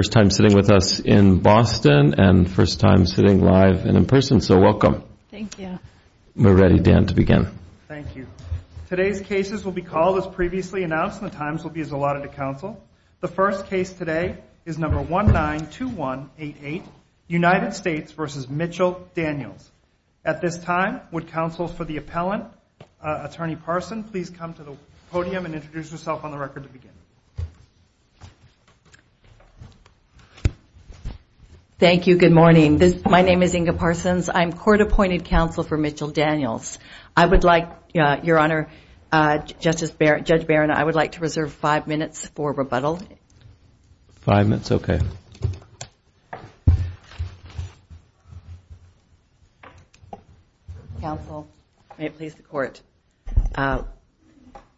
first time sitting with us in Boston and first time sitting live and in person, so welcome. Thank you. We're ready, Dan, to begin. Thank you. Today's cases will be called, as previously announced, and the times will be as allotted to counsel. The first case today is number 192188, United States v. Mitchell Daniels. At this time, would counsel for the appellant, Attorney Parson, please come to the podium and introduce yourself on the record to begin. Thank you. Good morning. My name is Inga Parsons. I'm court-appointed counsel for Mitchell Daniels. I would like, Your Honor, Judge Barron, I would like to reserve five minutes for rebuttal. Five minutes? Okay. Counsel, may it please the court,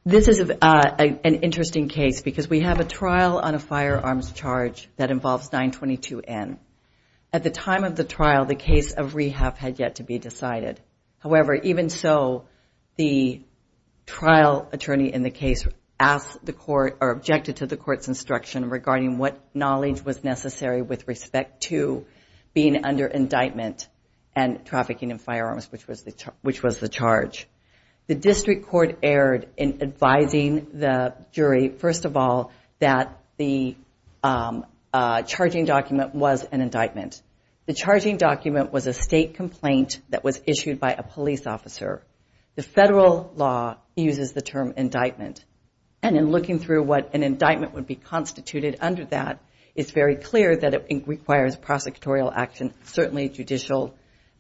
this is an interesting case because we have a trial on a firearms charge that involves 922N. At the time of the trial, the case of rehab had yet to be decided. However, even so, the trial attorney in the case asked the court, or objected to the court's installation of a firearm. The district court erred in advising the jury, first of all, that the charging document was an indictment. The charging document was a state complaint that was issued by a police officer. The federal law uses the term indictment. And in looking through what an indictment would be contemplated, we found that it was a state complaint. It's very clear that it requires prosecutorial action, certainly judicial,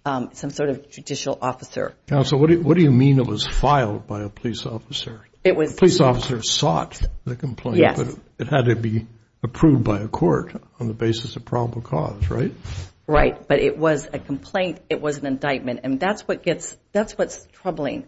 some sort of judicial officer. Counsel, what do you mean it was filed by a police officer? Police officers sought the complaint. Yes. It had to be approved by a court on the basis of probable cause, right? Right. But it was a complaint. It was an indictment. And that's what gets, that's what's troubling.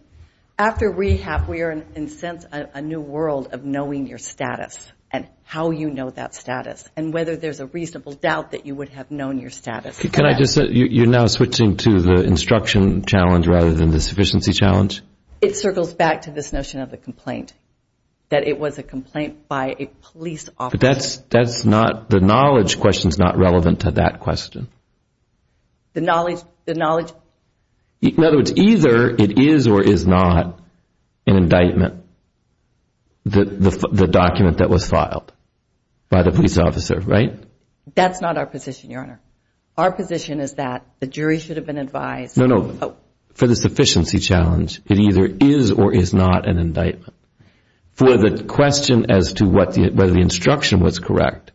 After rehab, we are in a sense a new world of knowing your status, and how you know that status, and whether there's a reasonable doubt that you would have known your status. Can I just say, you're now switching to the instruction challenge rather than the sufficiency challenge? It circles back to this notion of the complaint, that it was a complaint by a police officer. But that's not, the knowledge question is not relevant to that question. The knowledge, the knowledge. In other words, either it is or is not an indictment, the document that was filed by the police officer, right? That's not our position, Your Honor. Our position is that the jury should have been advised. No, no. For the sufficiency challenge, it either is or is not an indictment. For the question as to whether the instruction was correct,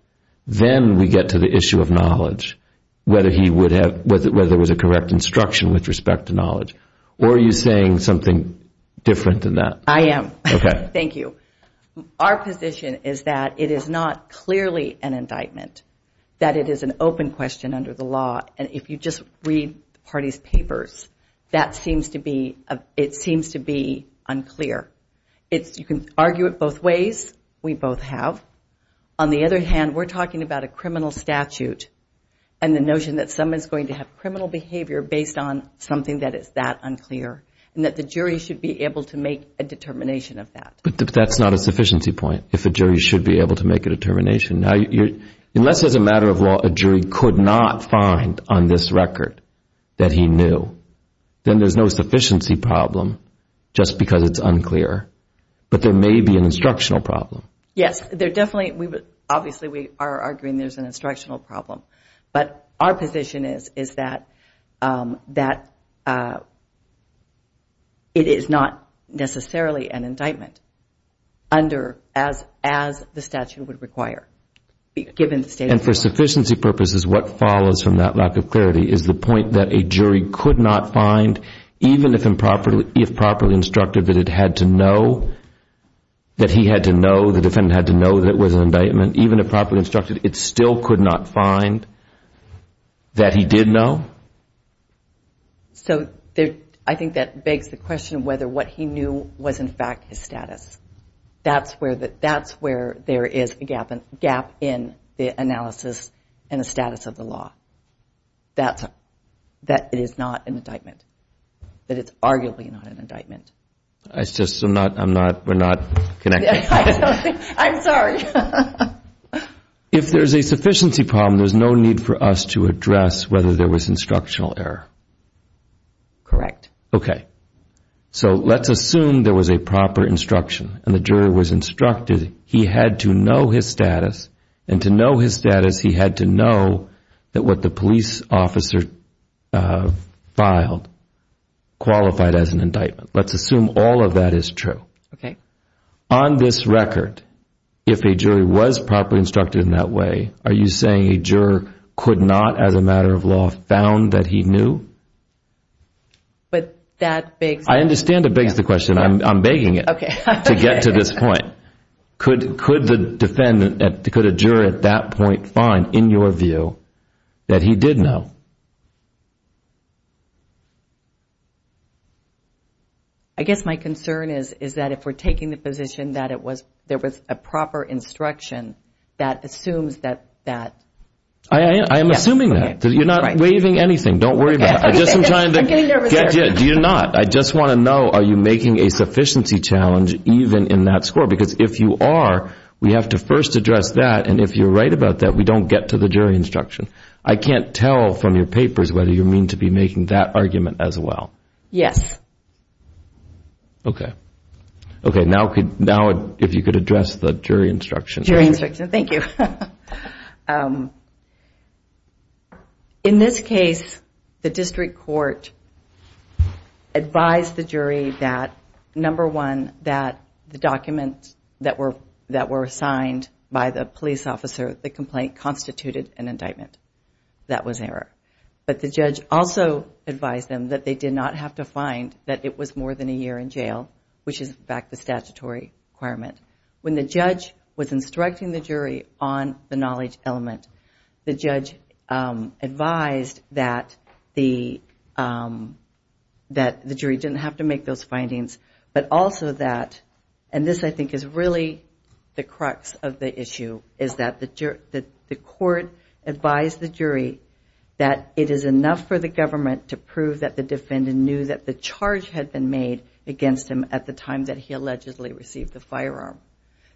then we get to the issue of knowledge. Whether he would have, whether there was a correct instruction with respect to knowledge. Or are you saying something different than that? I am. Thank you. Our position is that it is not clearly an indictment. That it is an open question under the law, and if you just read the party's papers, that seems to be, it seems to be unclear. It's, you can argue it both ways, we both have. On the other hand, we're talking about a criminal statute, and the notion that someone's going to have criminal behavior based on something that is that unclear, and that the jury should be able to make a determination of that. But that's not a sufficiency point, if a jury should be able to make a determination. Unless as a matter of law, a jury could not find on this record that he knew, then there's no sufficiency problem, just because it's unclear. But there may be an instructional problem. Yes, there definitely, obviously we are arguing there's an instructional problem. But our position is, is that, that it is not necessarily an indictment under, as the statute would require. And for sufficiency purposes, what follows from that lack of clarity is the point that a jury could not find, even if improperly, if properly instructed that it had to know, that he had to know, the defendant had to know that it was an indictment, even if properly instructed, it still could not find that he did know? So, I think that begs the question of whether what he knew was in fact his status. That's where there is a gap, a gap in the analysis and the status of the law. That it is not an indictment. That it's arguably not an indictment. It's just I'm not, we're not connected. I'm sorry. If there's a sufficiency problem, there's no need for us to address whether there was instructional error. Correct. Okay. So, let's assume there was a proper instruction and the jury was instructed he had to know his status. And to know his status, he had to know that what the police officer filed qualified as an indictment. Let's assume all of that is true. Okay. On this record, if a jury was properly instructed in that way, are you saying a juror could not, as a matter of law, found that he knew? But that begs the question. I understand it begs the question. I'm begging it. Okay. To get to this point. Could the defendant, could a juror at that point find in your view that he did know? I guess my concern is that if we're taking the position that it was, there was a proper instruction that assumes that that. I am assuming that. You're not waiving anything. Don't worry about it. I'm getting nervous here. Do you not? I just want to know, are you making a sufficiency challenge even in that score? Because if you are, we have to first address that. And if you're right about that, we don't get to the jury instruction. I can't tell from your papers whether you mean to be making that argument as well. Yes. Okay. Now if you could address the jury instruction. Jury instruction. Thank you. In this case, the district court advised the jury that, number one, that the documents that were signed by the police officer, the complaint constituted an indictment. That was error. But the judge also advised them that they did not have to find that it was more than a year in jail, which is, in fact, the statutory requirement. When the judge was instructing the jury on the knowledge element, the judge advised that the jury didn't have to make those findings, but also that, and this I think is really the crux of the issue, is that the court advised the jury that it is enough for the government to prove that the defendant knew that the charge had been made against him at the time that he allegedly received the firearm.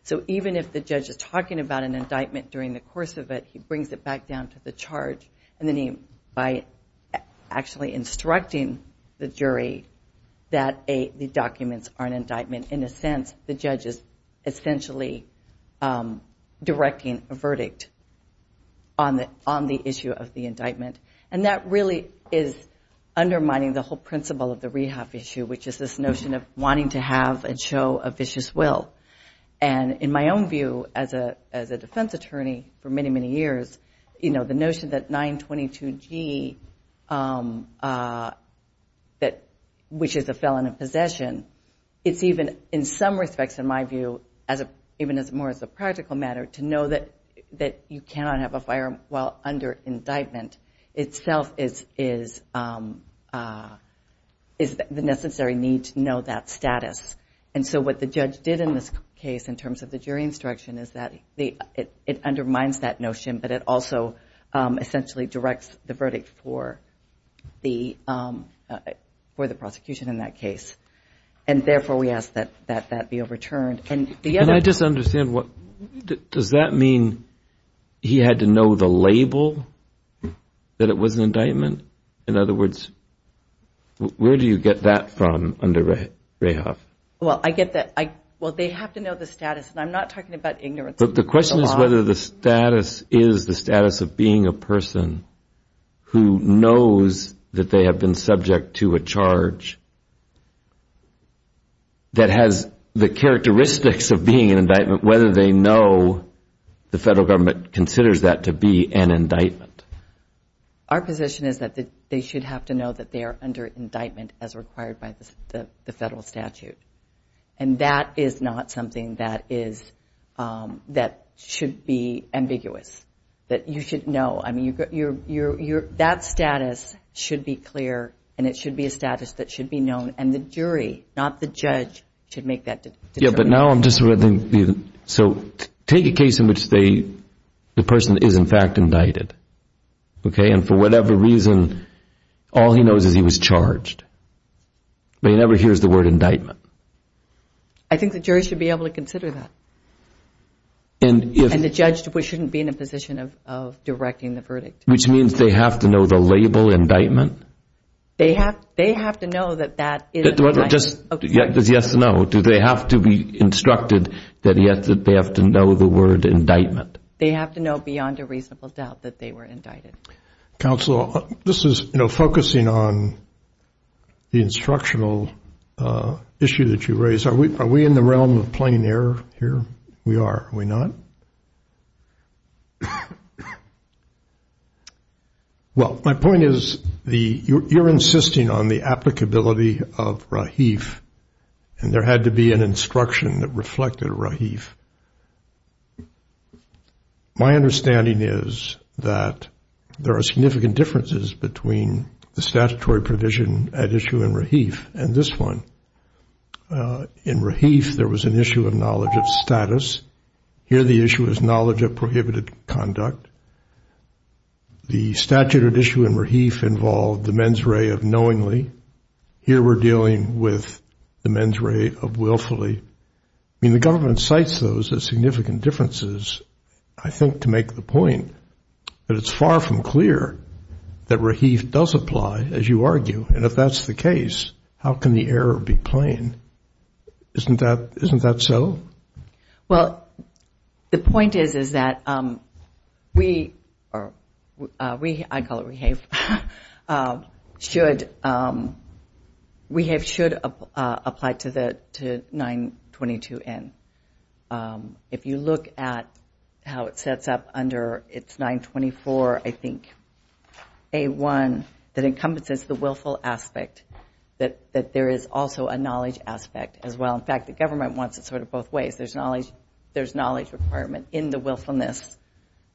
So even if the judge is talking about an indictment during the course of it, he brings it back down to the charge, and then by actually instructing the jury that the documents are an indictment, in a sense the judge is essentially directing a verdict on the issue of the indictment. And that really is undermining the whole principle of the rehab issue, which is this notion of wanting to have and show a vicious will. And in my own view, as a defense attorney for many, many years, the notion that 922G, which is a felon in possession, it's even in some respects, in my view, even more as a practical matter to know that you cannot have a firearm while that status. And so what the judge did in this case, in terms of the jury instruction, is that it undermines that notion, but it also essentially directs the verdict for the prosecution in that case. And therefore, we ask that that be overturned. And I just understand, does that mean he had to know the label, that it was an indictment? In other words, where do you get that from under Rahoff? Well, I get that. Well, they have to know the status, and I'm not talking about ignorance. But the question is whether the status is the status of being a person who knows that they have been subject to a charge that has the characteristics of being an indictment, whether they know the federal government considers that to be an indictment. Our position is that they should have to know that they are under indictment as required by the federal statute. And that is not something that should be ambiguous, that you should know. I mean, that status should be clear, and it should be a status that should be known. And the jury, not the judge, should make that determination. Yeah, but now I'm just reading. So take a case in which the person is, in fact, indicted. And for whatever reason, all he knows is he was charged. But he never hears the word indictment. I think the jury should be able to consider that. And the judge shouldn't be in a position of directing the verdict. Which means they have to know the label indictment? They have to know that that is an indictment. Does he have to know? Do they have to be instructed that they have to know the word indictment? They have to know beyond a reasonable doubt that they were indicted. Counsel, this is focusing on the instructional issue that you raised. Are we in the realm of plain error here? We are. Are we not? Well, my point is you're insisting on the applicability of Rahif, and there had to be an instruction that reflected Rahif. My understanding is that there are significant differences between the statutory provision at issue in Rahif and this one. In Rahif, there was an issue of knowledge of status. Here the issue is knowledge of prohibited conduct. The statute at issue in Rahif involved the mens rea of knowingly. Here we're dealing with the mens rea of willfully. I mean, the government cites those as significant differences, I think, to make the point. But it's far from clear that Rahif does apply, as you argue. And if that's the case, how can the error be plain? Isn't that so? Well, the point is that we, I call it Rahif, should apply to 922N. If you look at how it sets up under its 924, I think, A1, that encompasses the willful aspect, that there is also a knowledge aspect as well. In fact, the government wants it sort of both ways. There's knowledge requirement in the willfulness,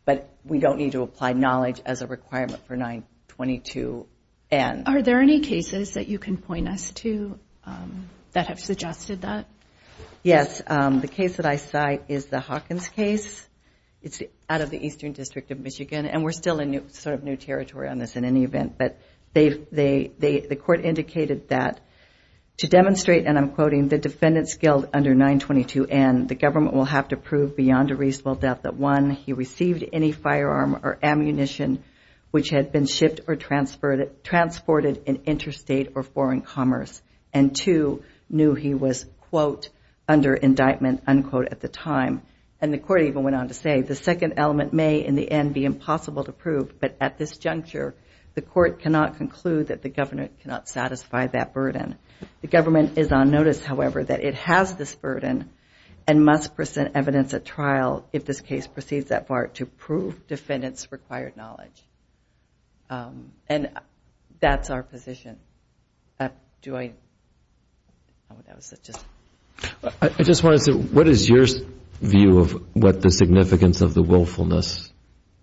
but we don't need to apply knowledge as a requirement for 922N. Are there any cases that you can point us to that have suggested that? Yes. The case that I cite is the Hawkins case. It's out of the Eastern District of Michigan, and we're still in sort of new territory on this in any event. But the court indicated that to demonstrate, and I'm quoting, the defendant's guilt under 922N, the government will have to prove beyond a reasonable doubt that, one, he received any firearm or ammunition which had been shipped or transported in interstate or foreign commerce, and, two, knew he was, quote, under indictment, unquote, at the time. And the court even went on to say the second element may in the end be impossible to prove, but at this juncture, the court cannot conclude that the government cannot satisfy that burden. The government is on notice, however, that it has this burden and must present evidence at trial if this case proceeds that far to prove defendant's required knowledge. And that's our position. Do I? That was just. I just wanted to say, what is your view of what the significance of the willfulness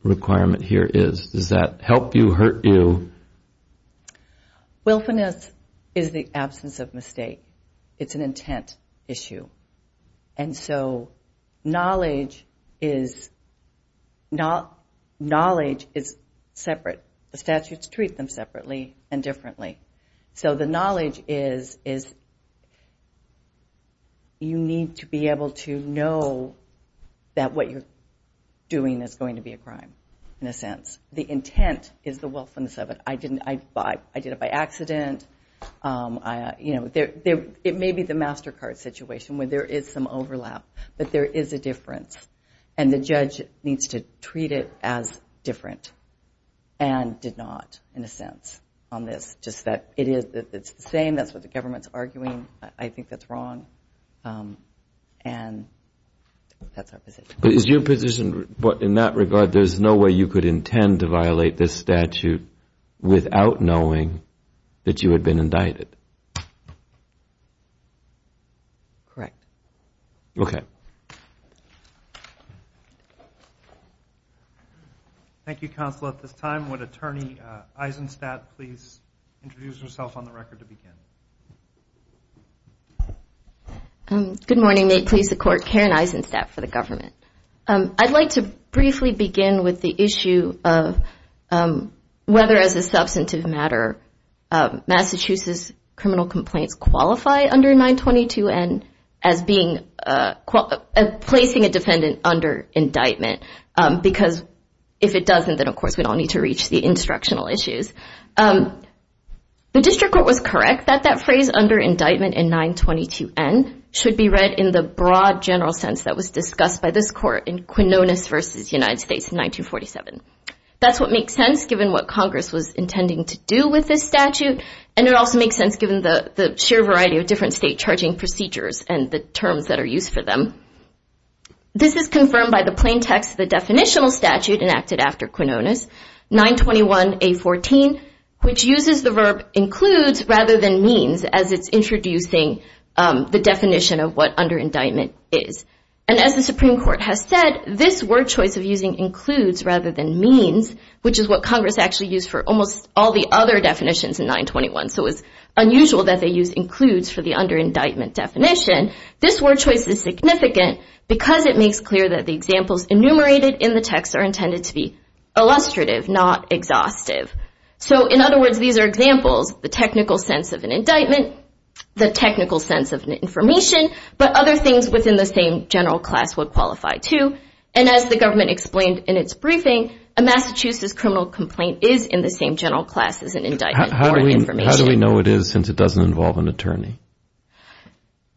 requirement here is? Does that help you, hurt you? Willfulness is the absence of mistake. It's an intent issue. And so knowledge is separate. The statutes treat them separately and differently. So the knowledge is you need to be able to know that what you're doing is going to be a crime, in a sense. The intent is the willfulness of it. I did it by accident. It may be the MasterCard situation where there is some overlap, but there is a difference, and the judge needs to treat it as different and did not, in a sense, on this. Just that it's the same. That's what the government's arguing. I think that's wrong. And that's our position. Is your position in that regard, there's no way you could intend to violate this statute without knowing that you had been indicted? Correct. Okay. Thank you, Counsel. At this time, would Attorney Eisenstadt please introduce herself on the record to begin? Good morning. May it please the Court, Karen Eisenstadt for the government. I'd like to briefly begin with the issue of whether, as a substantive matter, Massachusetts criminal complaints qualify under 922N as placing a defendant under indictment. Because if it doesn't, then, of course, we don't need to reach the instructional issues. The District Court was correct that that phrase, under indictment in 922N, should be read in the broad, general sense that was discussed by this Court in Quinones v. United States in 1947. That's what makes sense given what Congress was intending to do with this statute, and it also makes sense given the sheer variety of different state charging procedures and the terms that are used for them. This is confirmed by the plain text of the definitional statute enacted after Quinones, 921A14, which uses the verb includes rather than means as it's introducing the definition of what under indictment is. And as the Supreme Court has said, this word choice of using includes rather than means, which is what Congress actually used for almost all the other definitions in 921, so it's unusual that they use includes for the under indictment definition. This word choice is significant because it makes clear that the examples enumerated in the text are intended to be illustrative, not exhaustive. So, in other words, these are examples, the technical sense of an indictment, the technical sense of an information, but other things within the same general class would qualify, too. And as the government explained in its briefing, a Massachusetts criminal complaint is in the same general class as an indictment or an information. How do we know it is since it doesn't involve an attorney?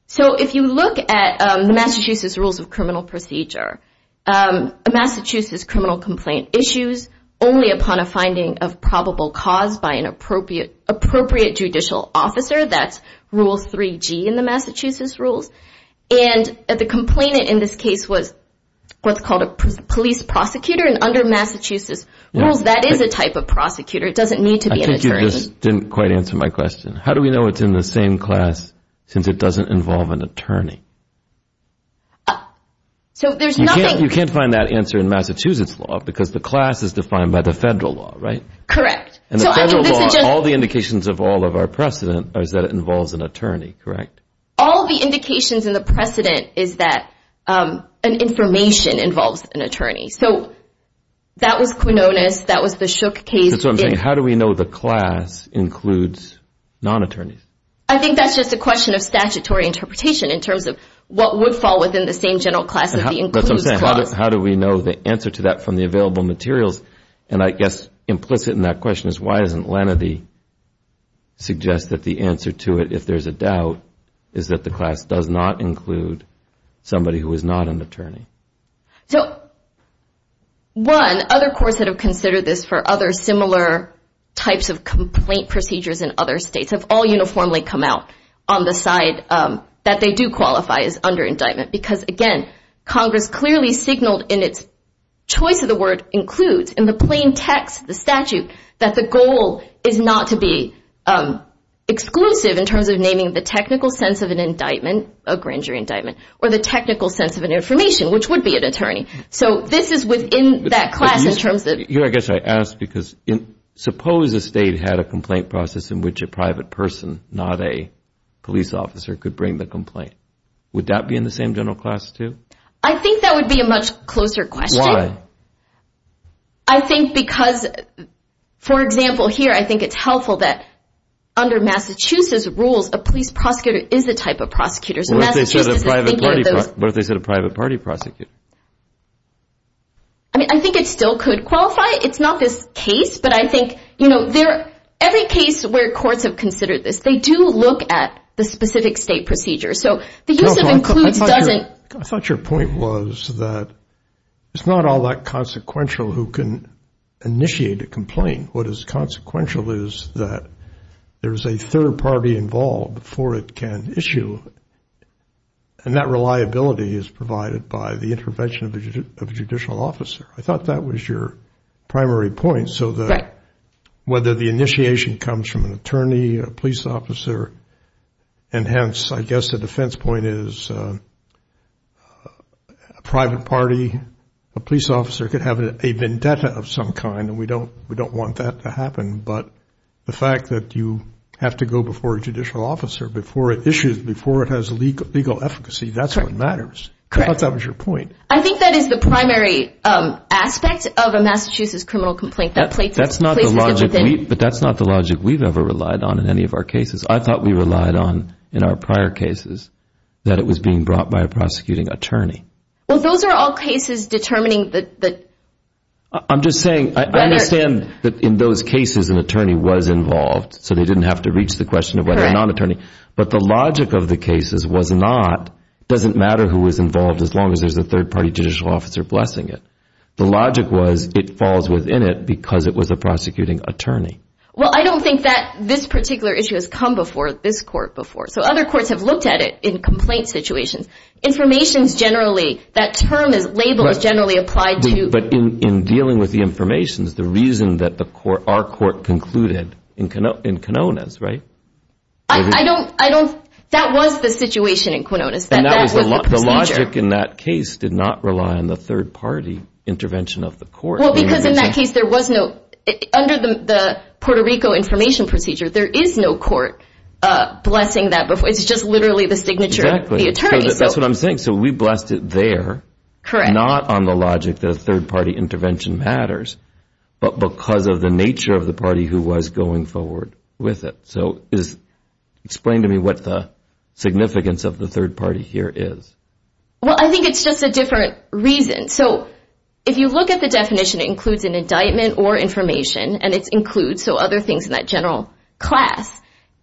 So if you look at the Massachusetts Rules of Criminal Procedure, a Massachusetts criminal complaint issues only upon a finding of probable cause by an appropriate judicial officer. That's Rule 3G in the Massachusetts rules. And the complainant in this case was what's called a police prosecutor, and under Massachusetts rules, that is a type of prosecutor. It doesn't need to be an attorney. I think you just didn't quite answer my question. How do we know it's in the same class since it doesn't involve an attorney? You can't find that answer in Massachusetts law because the class is defined by the federal law, right? Correct. In the federal law, all the indications of all of our precedent is that it involves an attorney, correct? All the indications in the precedent is that an information involves an attorney. So that was Quinones. That was the Shook case. That's what I'm saying. How do we know the class includes non-attorneys? I think that's just a question of statutory interpretation in terms of what would fall within the same general class as the includes clause. That's what I'm saying. How do we know the answer to that from the available materials? And I guess implicit in that question is why doesn't Lenedy suggest that the answer to it, if there's a doubt, is that the class does not include somebody who is not an attorney? So, one, other courts that have considered this for other similar types of complaint procedures in other states have all uniformly come out on the side that they do qualify as under indictment because, again, Congress clearly signaled in its choice of the word includes, in the plain text of the statute, that the goal is not to be exclusive in terms of naming the technical sense of an indictment, a grand jury indictment, or the technical sense of an information, which would be an attorney. So this is within that class in terms of – I guess I ask because suppose a state had a complaint process in which a private person, not a police officer, could bring the complaint. Would that be in the same general class too? I think that would be a much closer question. Why? I think because, for example, here I think it's helpful that under Massachusetts rules, a police prosecutor is a type of prosecutor. What if they said a private party prosecutor? I think it still could qualify. It's not this case, but I think every case where courts have considered this, they do look at the specific state procedure. So the use of includes doesn't – I thought your point was that it's not all that consequential who can initiate a complaint. What is consequential is that there is a third party involved before it can issue, and that reliability is provided by the intervention of a judicial officer. I thought that was your primary point so that whether the initiation comes from an attorney, a police officer, and hence I guess the defense point is a private party, a police officer could have a vendetta of some kind, and we don't want that to happen. But the fact that you have to go before a judicial officer before it issues, before it has legal efficacy, that's what matters. I thought that was your point. I think that is the primary aspect of a Massachusetts criminal complaint. But that's not the logic we've ever relied on in any of our cases. I thought we relied on in our prior cases that it was being brought by a prosecuting attorney. Well, those are all cases determining the – I'm just saying I understand that in those cases an attorney was involved, so they didn't have to reach the question of whether a non-attorney. But the logic of the cases was not, it doesn't matter who was involved as long as there's a third party judicial officer blessing it. The logic was it falls within it because it was a prosecuting attorney. Well, I don't think that this particular issue has come before this court before. So other courts have looked at it in complaint situations. Information is generally – that term is labeled as generally applied to – But in dealing with the information, the reason that our court concluded in Quinones, right? I don't – that was the situation in Quinones. The logic in that case did not rely on the third party intervention of the court. Well, because in that case there was no – under the Puerto Rico information procedure, there is no court blessing that. It's just literally the signature of the attorney. That's what I'm saying. So we blessed it there, not on the logic that a third party intervention matters, but because of the nature of the party who was going forward with it. So explain to me what the significance of the third party here is. Well, I think it's just a different reason. So if you look at the definition, it includes an indictment or information, and it includes other things in that general class.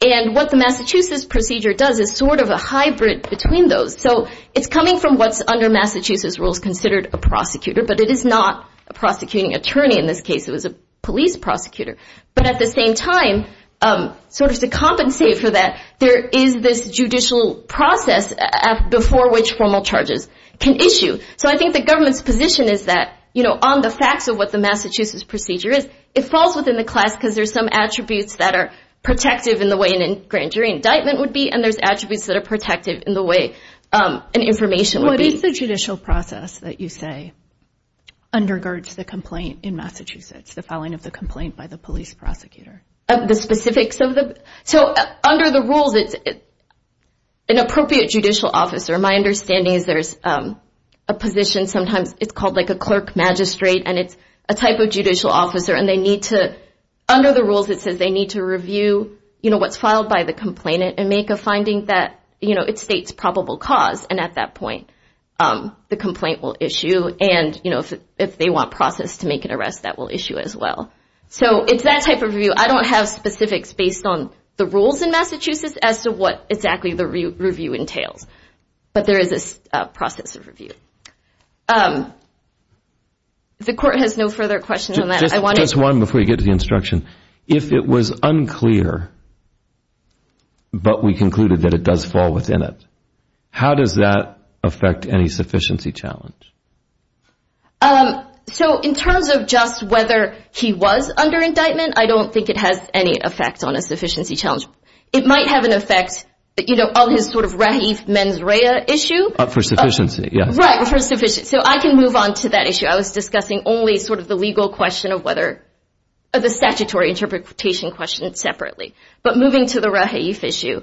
And what the Massachusetts procedure does is sort of a hybrid between those. So it's coming from what's under Massachusetts rules considered a prosecutor, but it is not a prosecuting attorney in this case. It was a police prosecutor. But at the same time, sort of to compensate for that, there is this judicial process before which formal charges can issue. So I think the government's position is that, you know, on the facts of what the Massachusetts procedure is, it falls within the class because there's some attributes that are protective in the way a grand jury indictment would be, and there's attributes that are protective in the way an information would be. What is the judicial process that you say undergirds the complaint in Massachusetts, the filing of the complaint by the police prosecutor? The specifics of the – so under the rules, it's an appropriate judicial officer. My understanding is there's a position sometimes it's called like a clerk magistrate, and it's a type of judicial officer. And they need to – under the rules it says they need to review, you know, what's filed by the complainant and make a finding that, you know, it states probable cause. And at that point, the complaint will issue. And, you know, if they want process to make an arrest, that will issue as well. So it's that type of review. I don't have specifics based on the rules in Massachusetts as to what exactly the review entails. But there is a process of review. The court has no further questions on that. Just one before you get to the instruction. If it was unclear but we concluded that it does fall within it, how does that affect any sufficiency challenge? So in terms of just whether he was under indictment, I don't think it has any effect on a sufficiency challenge. It might have an effect, you know, on his sort of rahif mens rea issue. For sufficiency, yes. Right, for sufficiency. So I can move on to that issue. I was discussing only sort of the legal question of whether – the statutory interpretation question separately. But moving to the rahif issue.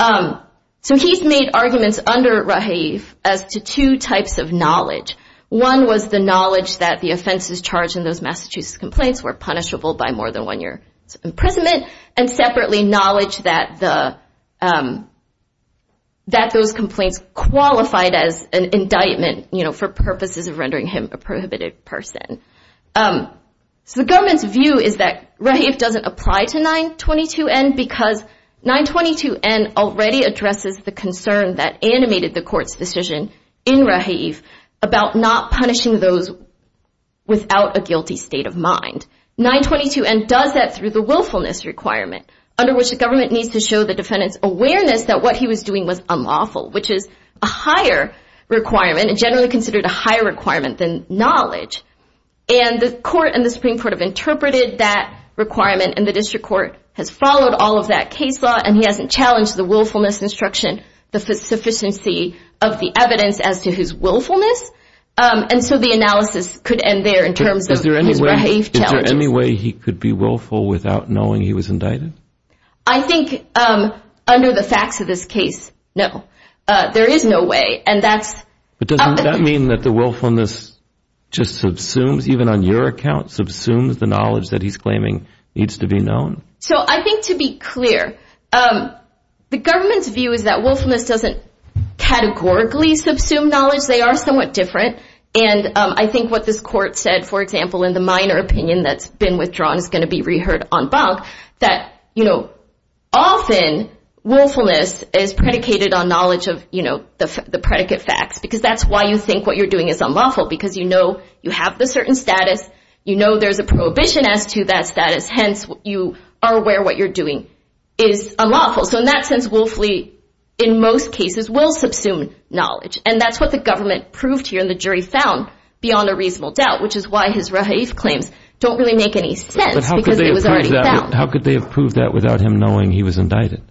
So he's made arguments under rahif as to two types of knowledge. One was the knowledge that the offenses charged in those Massachusetts complaints were punishable by more than one year imprisonment, and separately knowledge that those complaints qualified as an indictment, you know, for purposes of rendering him a prohibited person. So the government's view is that rahif doesn't apply to 922N because 922N already addresses the concern that animated the court's decision in rahif about not punishing those without a guilty state of mind. 922N does that through the willfulness requirement, under which the government needs to show the defendant's awareness that what he was doing was unlawful, which is a higher requirement and generally considered a higher requirement than knowledge. And the court and the Supreme Court have interpreted that requirement and the district court has followed all of that case law and he hasn't challenged the willfulness instruction, the sufficiency of the evidence as to his willfulness. And so the analysis could end there in terms of his rahif challenges. Is there any way he could be willful without knowing he was indicted? I think under the facts of this case, no. There is no way, and that's – But doesn't that mean that the willfulness just subsumes, even on your account, subsumes the knowledge that he's claiming needs to be known? So I think to be clear, the government's view is that willfulness doesn't categorically subsume knowledge. They are somewhat different. And I think what this court said, for example, in the minor opinion that's been withdrawn is going to be reheard en banc, that often willfulness is predicated on knowledge of the predicate facts because that's why you think what you're doing is unlawful because you know you have the certain status, you know there's a prohibition as to that status, hence you are aware what you're doing is unlawful. So in that sense, willfully, in most cases, will subsume knowledge. And that's what the government proved here and the jury found beyond a reasonable doubt, which is why his rahif claims don't really make any sense because it was already found. But how could they have proved that without him knowing he was indicted?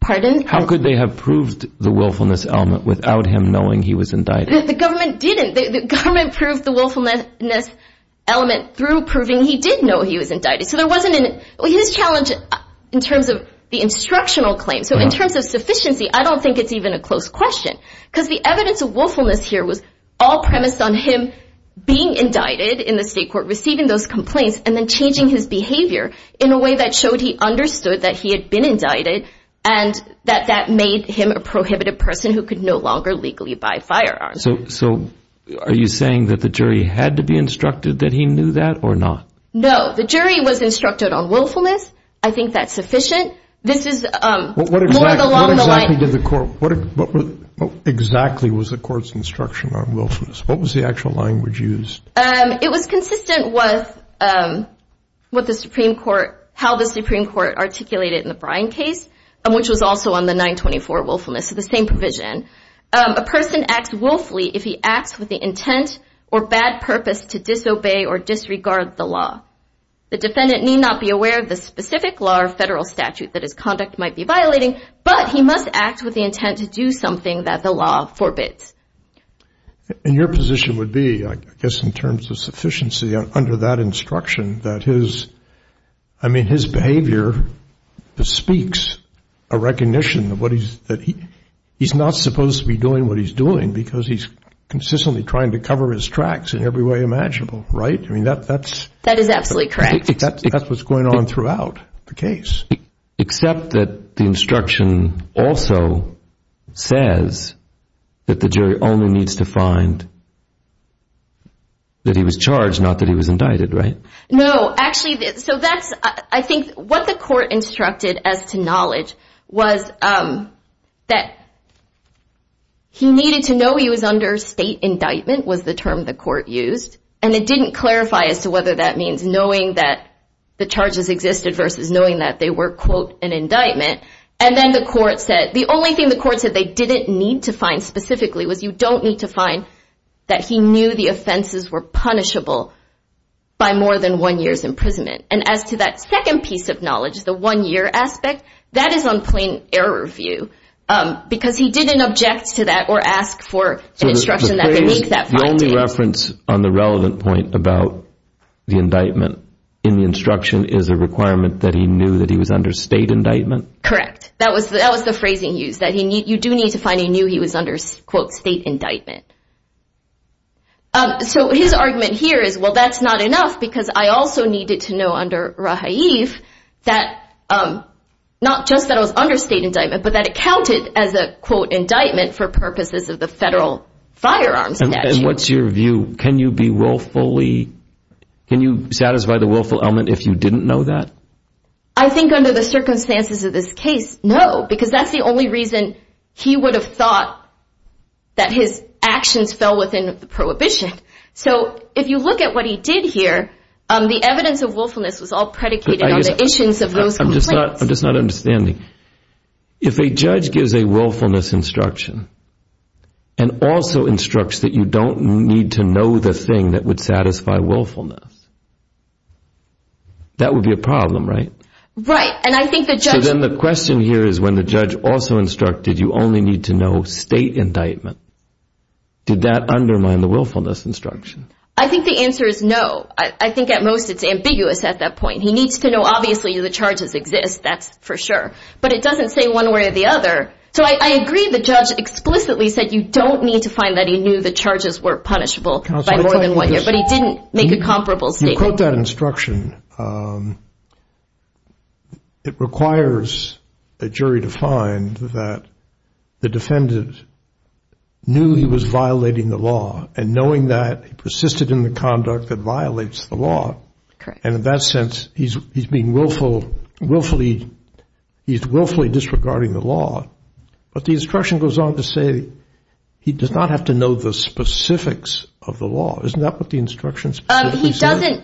Pardon? How could they have proved the willfulness element without him knowing he was indicted? The government didn't. The government proved the willfulness element through proving he did know he was indicted. So there wasn't an—his challenge in terms of the instructional claims, so in terms of sufficiency, I don't think it's even a close question because the evidence of willfulness here was all premised on him being indicted in the state court, receiving those complaints, and then changing his behavior in a way that showed he understood that he had been indicted and that that made him a prohibited person who could no longer legally buy firearms. So are you saying that the jury had to be instructed that he knew that or not? No. The jury was instructed on willfulness. I think that's sufficient. This is more along the line— What exactly did the court—what exactly was the court's instruction on willfulness? What was the actual language used? It was consistent with what the Supreme Court—how the Supreme Court articulated in the Bryan case, which was also on the 924 willfulness, the same provision. A person acts willfully if he acts with the intent or bad purpose to disobey or disregard the law. The defendant need not be aware of the specific law or federal statute that his conduct might be violating, but he must act with the intent to do something that the law forbids. And your position would be, I guess in terms of sufficiency, under that instruction that his—I mean, his behavior speaks a recognition of what he's— that he's not supposed to be doing what he's doing because he's consistently trying to cover his tracks in every way imaginable, right? I mean, that's— That is absolutely correct. That's what's going on throughout the case. Except that the instruction also says that the jury only needs to find that he was charged, not that he was indicted, right? No. Actually, so that's—I think what the court instructed as to knowledge was that he needed to know he was under state indictment was the term the court used, and it didn't clarify as to whether that means knowing that the charges existed versus knowing that they were, quote, an indictment. And then the court said—the only thing the court said they didn't need to find specifically was you don't need to find that he knew the offenses were punishable by more than one year's imprisonment. And as to that second piece of knowledge, the one-year aspect, that is on plain error view because he didn't object to that or ask for an instruction that would make that finding— in the instruction is a requirement that he knew that he was under state indictment? Correct. That was the phrasing used, that you do need to find he knew he was under, quote, state indictment. So his argument here is, well, that's not enough because I also needed to know under Rahaev that not just that I was under state indictment, but that it counted as a, quote, indictment for purposes of the federal firearms statute. And what's your view? Can you be willfully—can you satisfy the willful element if you didn't know that? I think under the circumstances of this case, no, because that's the only reason he would have thought that his actions fell within the prohibition. So if you look at what he did here, the evidence of willfulness was all predicated on the issuance of those complaints. I'm just not understanding. If a judge gives a willfulness instruction and also instructs that you don't need to know the thing that would satisfy willfulness, that would be a problem, right? Right, and I think the judge— So then the question here is when the judge also instructed you only need to know state indictment, did that undermine the willfulness instruction? I think the answer is no. I think at most it's ambiguous at that point. He needs to know obviously the charges exist, that's for sure, but it doesn't say one way or the other. So I agree the judge explicitly said you don't need to find that he knew the charges were punishable by more than one year, but he didn't make a comparable statement. You quote that instruction. It requires a jury to find that the defendant knew he was violating the law and knowing that he persisted in the conduct that violates the law. Correct. And in that sense, he's being willfully—he's willfully disregarding the law, but the instruction goes on to say he does not have to know the specifics of the law. Isn't that what the instruction specifically said? He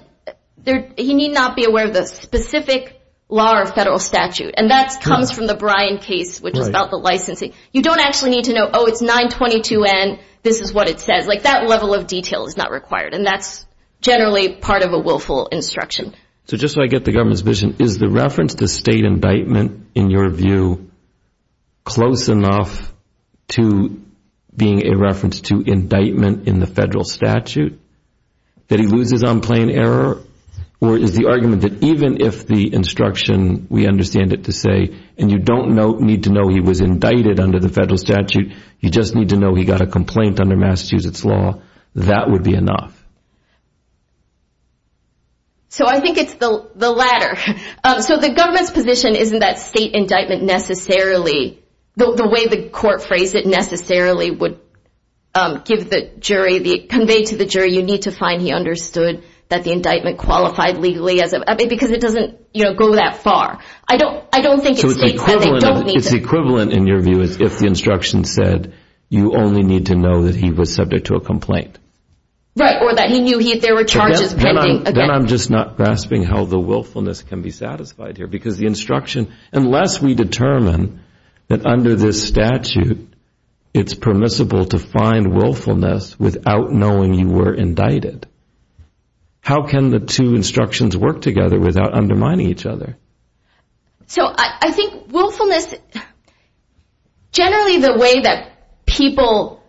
doesn't—he need not be aware of the specific law or federal statute, and that comes from the Bryan case, which is about the licensing. You don't actually need to know, oh, it's 922N, this is what it says. Like that level of detail is not required, and that's generally part of a willful instruction. So just so I get the government's vision, is the reference to state indictment, in your view, close enough to being a reference to indictment in the federal statute that he loses on plain error, or is the argument that even if the instruction, we understand it to say, and you don't need to know he was indicted under the federal statute, you just need to know he got a complaint under Massachusetts law, that would be enough? So I think it's the latter. So the government's position isn't that state indictment necessarily— the way the court phrased it necessarily would give the jury—convey to the jury, you need to find he understood that the indictment qualified legally as a— because it doesn't go that far. I don't think it states that they don't need to— It's equivalent, in your view, if the instruction said, you only need to know that he was subject to a complaint. Right, or that he knew there were charges pending. Then I'm just not grasping how the willfulness can be satisfied here, because the instruction—unless we determine that under this statute it's permissible to find willfulness without knowing you were indicted, how can the two instructions work together without undermining each other? So I think willfulness—generally the way that people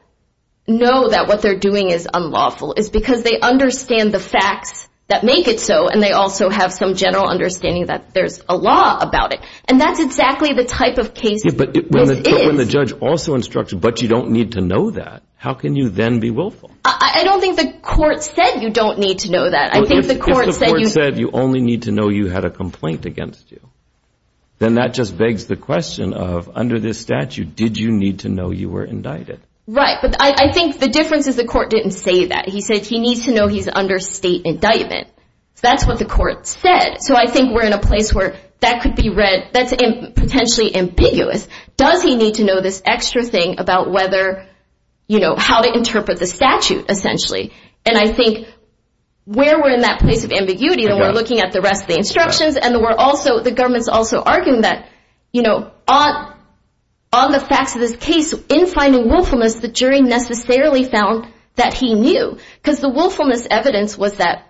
know that what they're doing is unlawful is because they understand the facts that make it so, and they also have some general understanding that there's a law about it. And that's exactly the type of case this is. But when the judge also instructs you, but you don't need to know that, how can you then be willful? I don't think the court said you don't need to know that. If the court said you only need to know you had a complaint against you, then that just begs the question of, under this statute, did you need to know you were indicted? Right, but I think the difference is the court didn't say that. He said he needs to know he's under state indictment. That's what the court said. So I think we're in a place where that could be read—that's potentially ambiguous. Does he need to know this extra thing about how to interpret the statute, essentially? And I think where we're in that place of ambiguity, then we're looking at the rest of the instructions, and the government's also arguing that on the facts of this case, in finding willfulness, the jury necessarily found that he knew because the willfulness evidence was that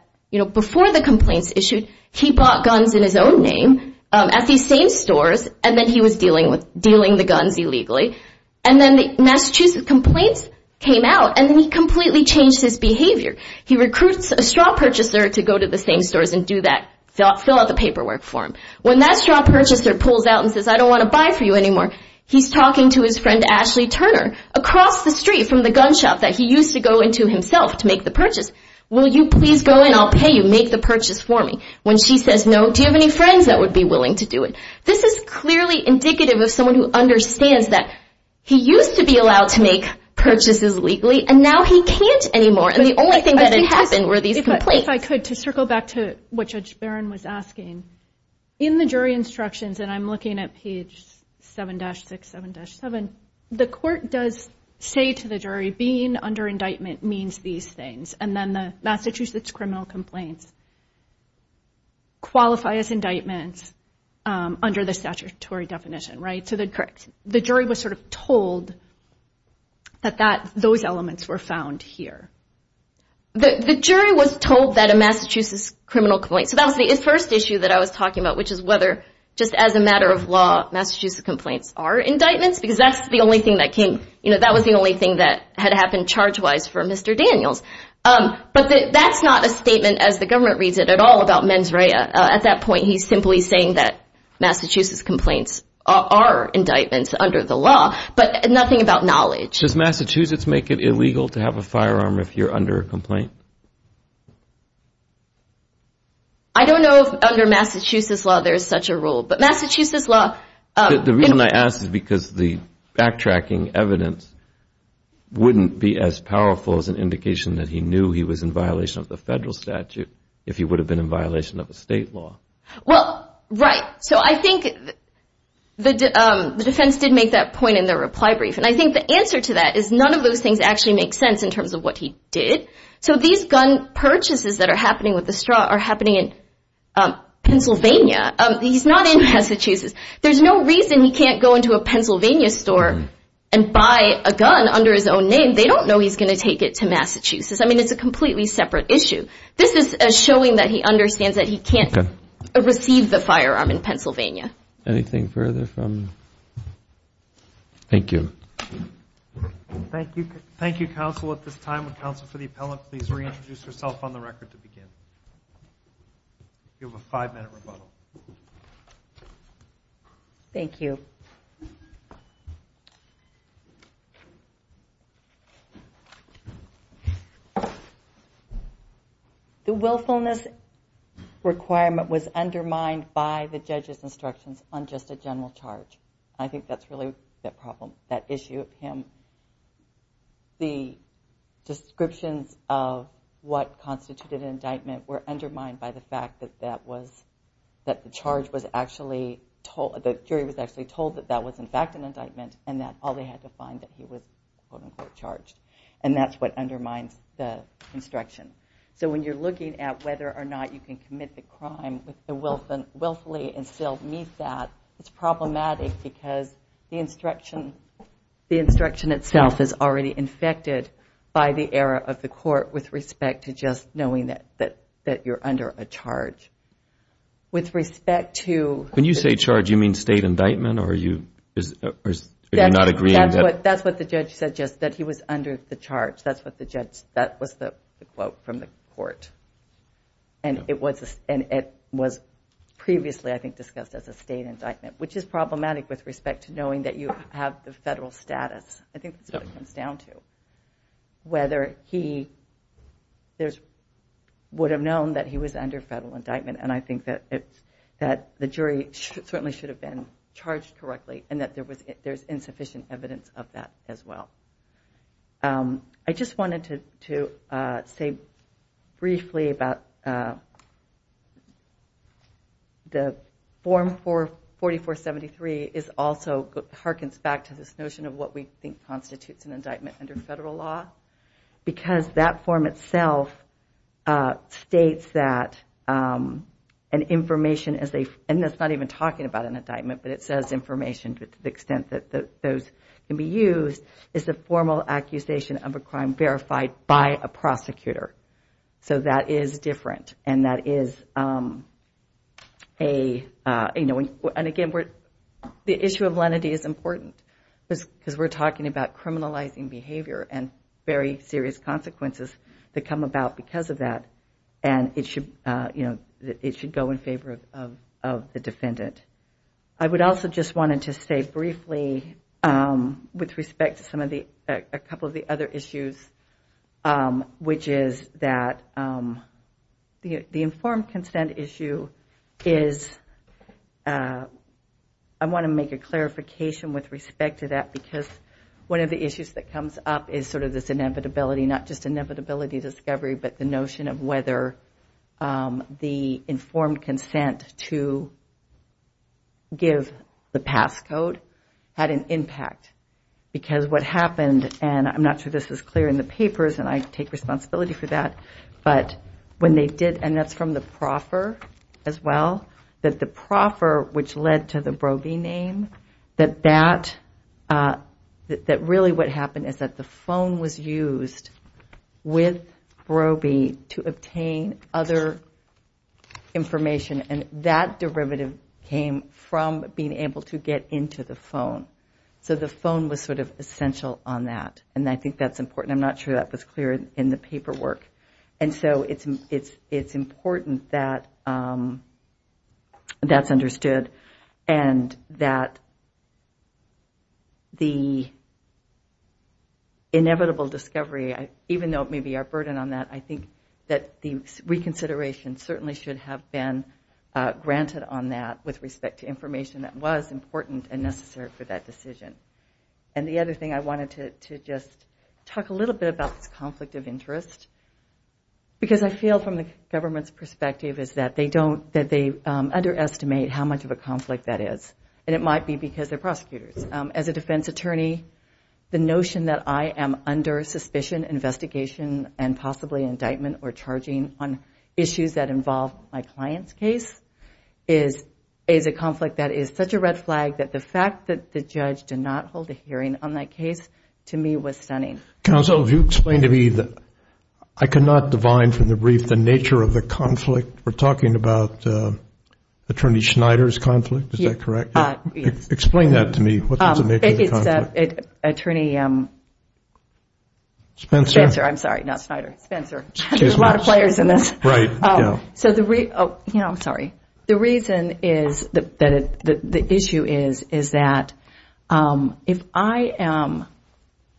before the complaints issued, he bought guns in his own name at these same stores, and then he was dealing the guns illegally. And then the Massachusetts complaints came out, and then he completely changed his behavior. He recruits a straw purchaser to go to the same stores and fill out the paperwork for him. When that straw purchaser pulls out and says, I don't want to buy for you anymore, he's talking to his friend Ashley Turner across the street from the gun shop that he used to go into himself to make the purchase. Will you please go in? I'll pay you. Make the purchase for me. When she says no, do you have any friends that would be willing to do it? This is clearly indicative of someone who understands that he used to be allowed to make purchases legally, and now he can't anymore. And the only thing that had happened were these complaints. If I could, to circle back to what Judge Barron was asking, in the jury instructions, and I'm looking at page 7-67-7, the court does say to the jury being under indictment means these things, and then the Massachusetts criminal complaints qualify as indictments under the statutory definition, right? Correct. The jury was sort of told that those elements were found here. The jury was told that a Massachusetts criminal complaint, so that was the first issue that I was talking about, which is whether, just as a matter of law, Massachusetts complaints are indictments, because that's the only thing that came, that was the only thing that had happened charge-wise for Mr. Daniels. But that's not a statement, as the government reads it, at all about mens rea. At that point, he's simply saying that Massachusetts complaints are indictments under the law, but nothing about knowledge. Does Massachusetts make it illegal to have a firearm if you're under a complaint? I don't know if under Massachusetts law there's such a rule, but Massachusetts law. The reason I ask is because the backtracking evidence wouldn't be as powerful as an indication that he knew he was in violation of the federal statute if he would have been in violation of the state law. Well, right. So I think the defense did make that point in their reply brief, and I think the answer to that is none of those things actually make sense in terms of what he did. So these gun purchases that are happening with the straw are happening in Pennsylvania. He's not in Massachusetts. There's no reason he can't go into a Pennsylvania store and buy a gun under his own name. They don't know he's going to take it to Massachusetts. I mean, it's a completely separate issue. This is showing that he understands that he can't receive the firearm in Pennsylvania. Anything further from me? Thank you. Thank you, counsel. At this time, would counsel for the appellant please reintroduce herself on the record to begin? You have a five-minute rebuttal. Thank you. The willfulness requirement was undermined by the judge's instructions on just a general charge. I think that's really the problem, that issue of him. The descriptions of what constituted an indictment were undermined by the fact that the jury was actually told that that was in fact an indictment and that all they had to find that he was quote-unquote charged. And that's what undermines the instruction. So when you're looking at whether or not you can commit the crime willfully and still meet that, it's problematic because the instruction itself is already infected by the error of the court with respect to just knowing that you're under a charge. When you say charge, do you mean state indictment or are you not agreeing? That's what the judge said, just that he was under the charge. That was the quote from the court. And it was previously I think discussed as a state indictment, which is problematic with respect to knowing that you have the federal status. I think that's what it comes down to. Whether he would have known that he was under federal indictment, and I think that the jury certainly should have been charged correctly and that there's insufficient evidence of that as well. I just wanted to say briefly about the form 4473 is also, it harkens back to this notion of what we think constitutes an indictment under federal law because that form itself states that an information, and it's not even talking about an indictment, but it says information to the extent that those can be used, is a formal accusation of a crime verified by a prosecutor. So that is different. And again, the issue of lenity is important because we're talking about criminalizing behavior and very serious consequences that come about because of that, and it should go in favor of the defendant. I would also just wanted to say briefly with respect to a couple of the other issues, which is that the informed consent issue is, I want to make a clarification with respect to that because one of the issues that comes up is sort of this inevitability, not just inevitability discovery, but the notion of whether the informed consent to give the pass code had an impact. Because what happened, and I'm not sure this is clear in the papers, and I take responsibility for that, but when they did, and that's from the proffer as well, that the proffer, which led to the Broby name, that really what happened is that the phone was used with Broby to obtain other information, and that derivative came from being able to get into the phone. So the phone was sort of essential on that, and I think that's important. I'm not sure that was clear in the paperwork. And so it's important that that's understood, and that the inevitable discovery, even though it may be our burden on that, I think that the reconsideration certainly should have been granted on that with respect to information that was important and necessary for that decision. And the other thing, I wanted to just talk a little bit about this conflict of interest, because I feel from the government's perspective is that they underestimate how much of a conflict that is, and it might be because they're prosecutors. As a defense attorney, the notion that I am under suspicion, investigation, and possibly indictment or charging on issues that involve my client's case is a conflict that is such a red flag that the fact that the judge did not hold a hearing on that case, to me, was stunning. Counsel, if you explain to me, I cannot divine from the brief, the nature of the conflict. We're talking about Attorney Schneider's conflict, is that correct? Explain that to me, what's the nature of the conflict? It's Attorney... Spencer. Spencer, I'm sorry, not Schneider, Spencer. There's a lot of players in this. I'm sorry. The reason is, the issue is, is that if I am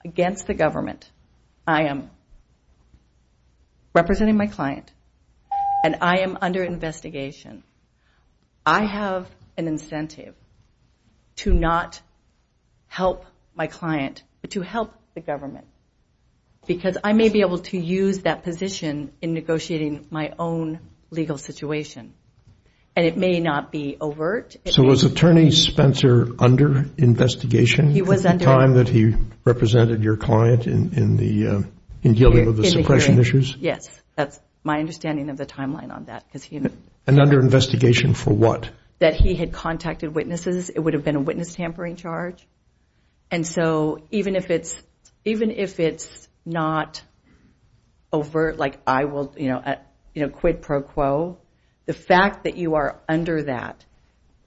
against the government, I am representing my client, and I am under investigation, I have an incentive to not help my client, but to help the government, because I may be able to use that position in negotiating my own legal situation, and it may not be overt. So was Attorney Spencer under investigation at the time that he represented your client in dealing with the suppression issues? Yes, that's my understanding of the timeline on that. And under investigation for what? That he had contacted witnesses. It would have been a witness tampering charge. And so even if it's not overt, like I will, you know, quid pro quo, the fact that you are under that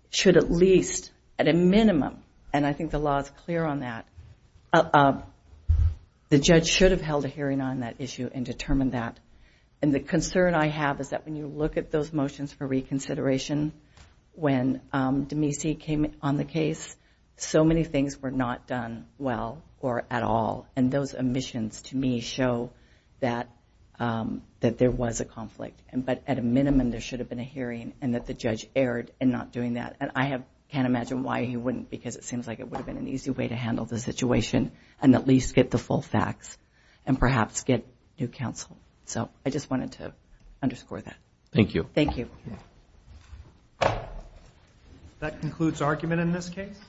should at least at a minimum, and I think the law is clear on that, the judge should have held a hearing on that issue and determined that. And the concern I have is that when you look at those motions for reconsideration, when Demese came on the case, so many things were not done well or at all, and those omissions to me show that there was a conflict. But at a minimum, there should have been a hearing and that the judge erred in not doing that. And I can't imagine why he wouldn't, because it seems like it would have been an easy way to handle the situation and at least get the full facts and perhaps get new counsel. So I just wanted to underscore that. Thank you. Thank you. That concludes argument in this case.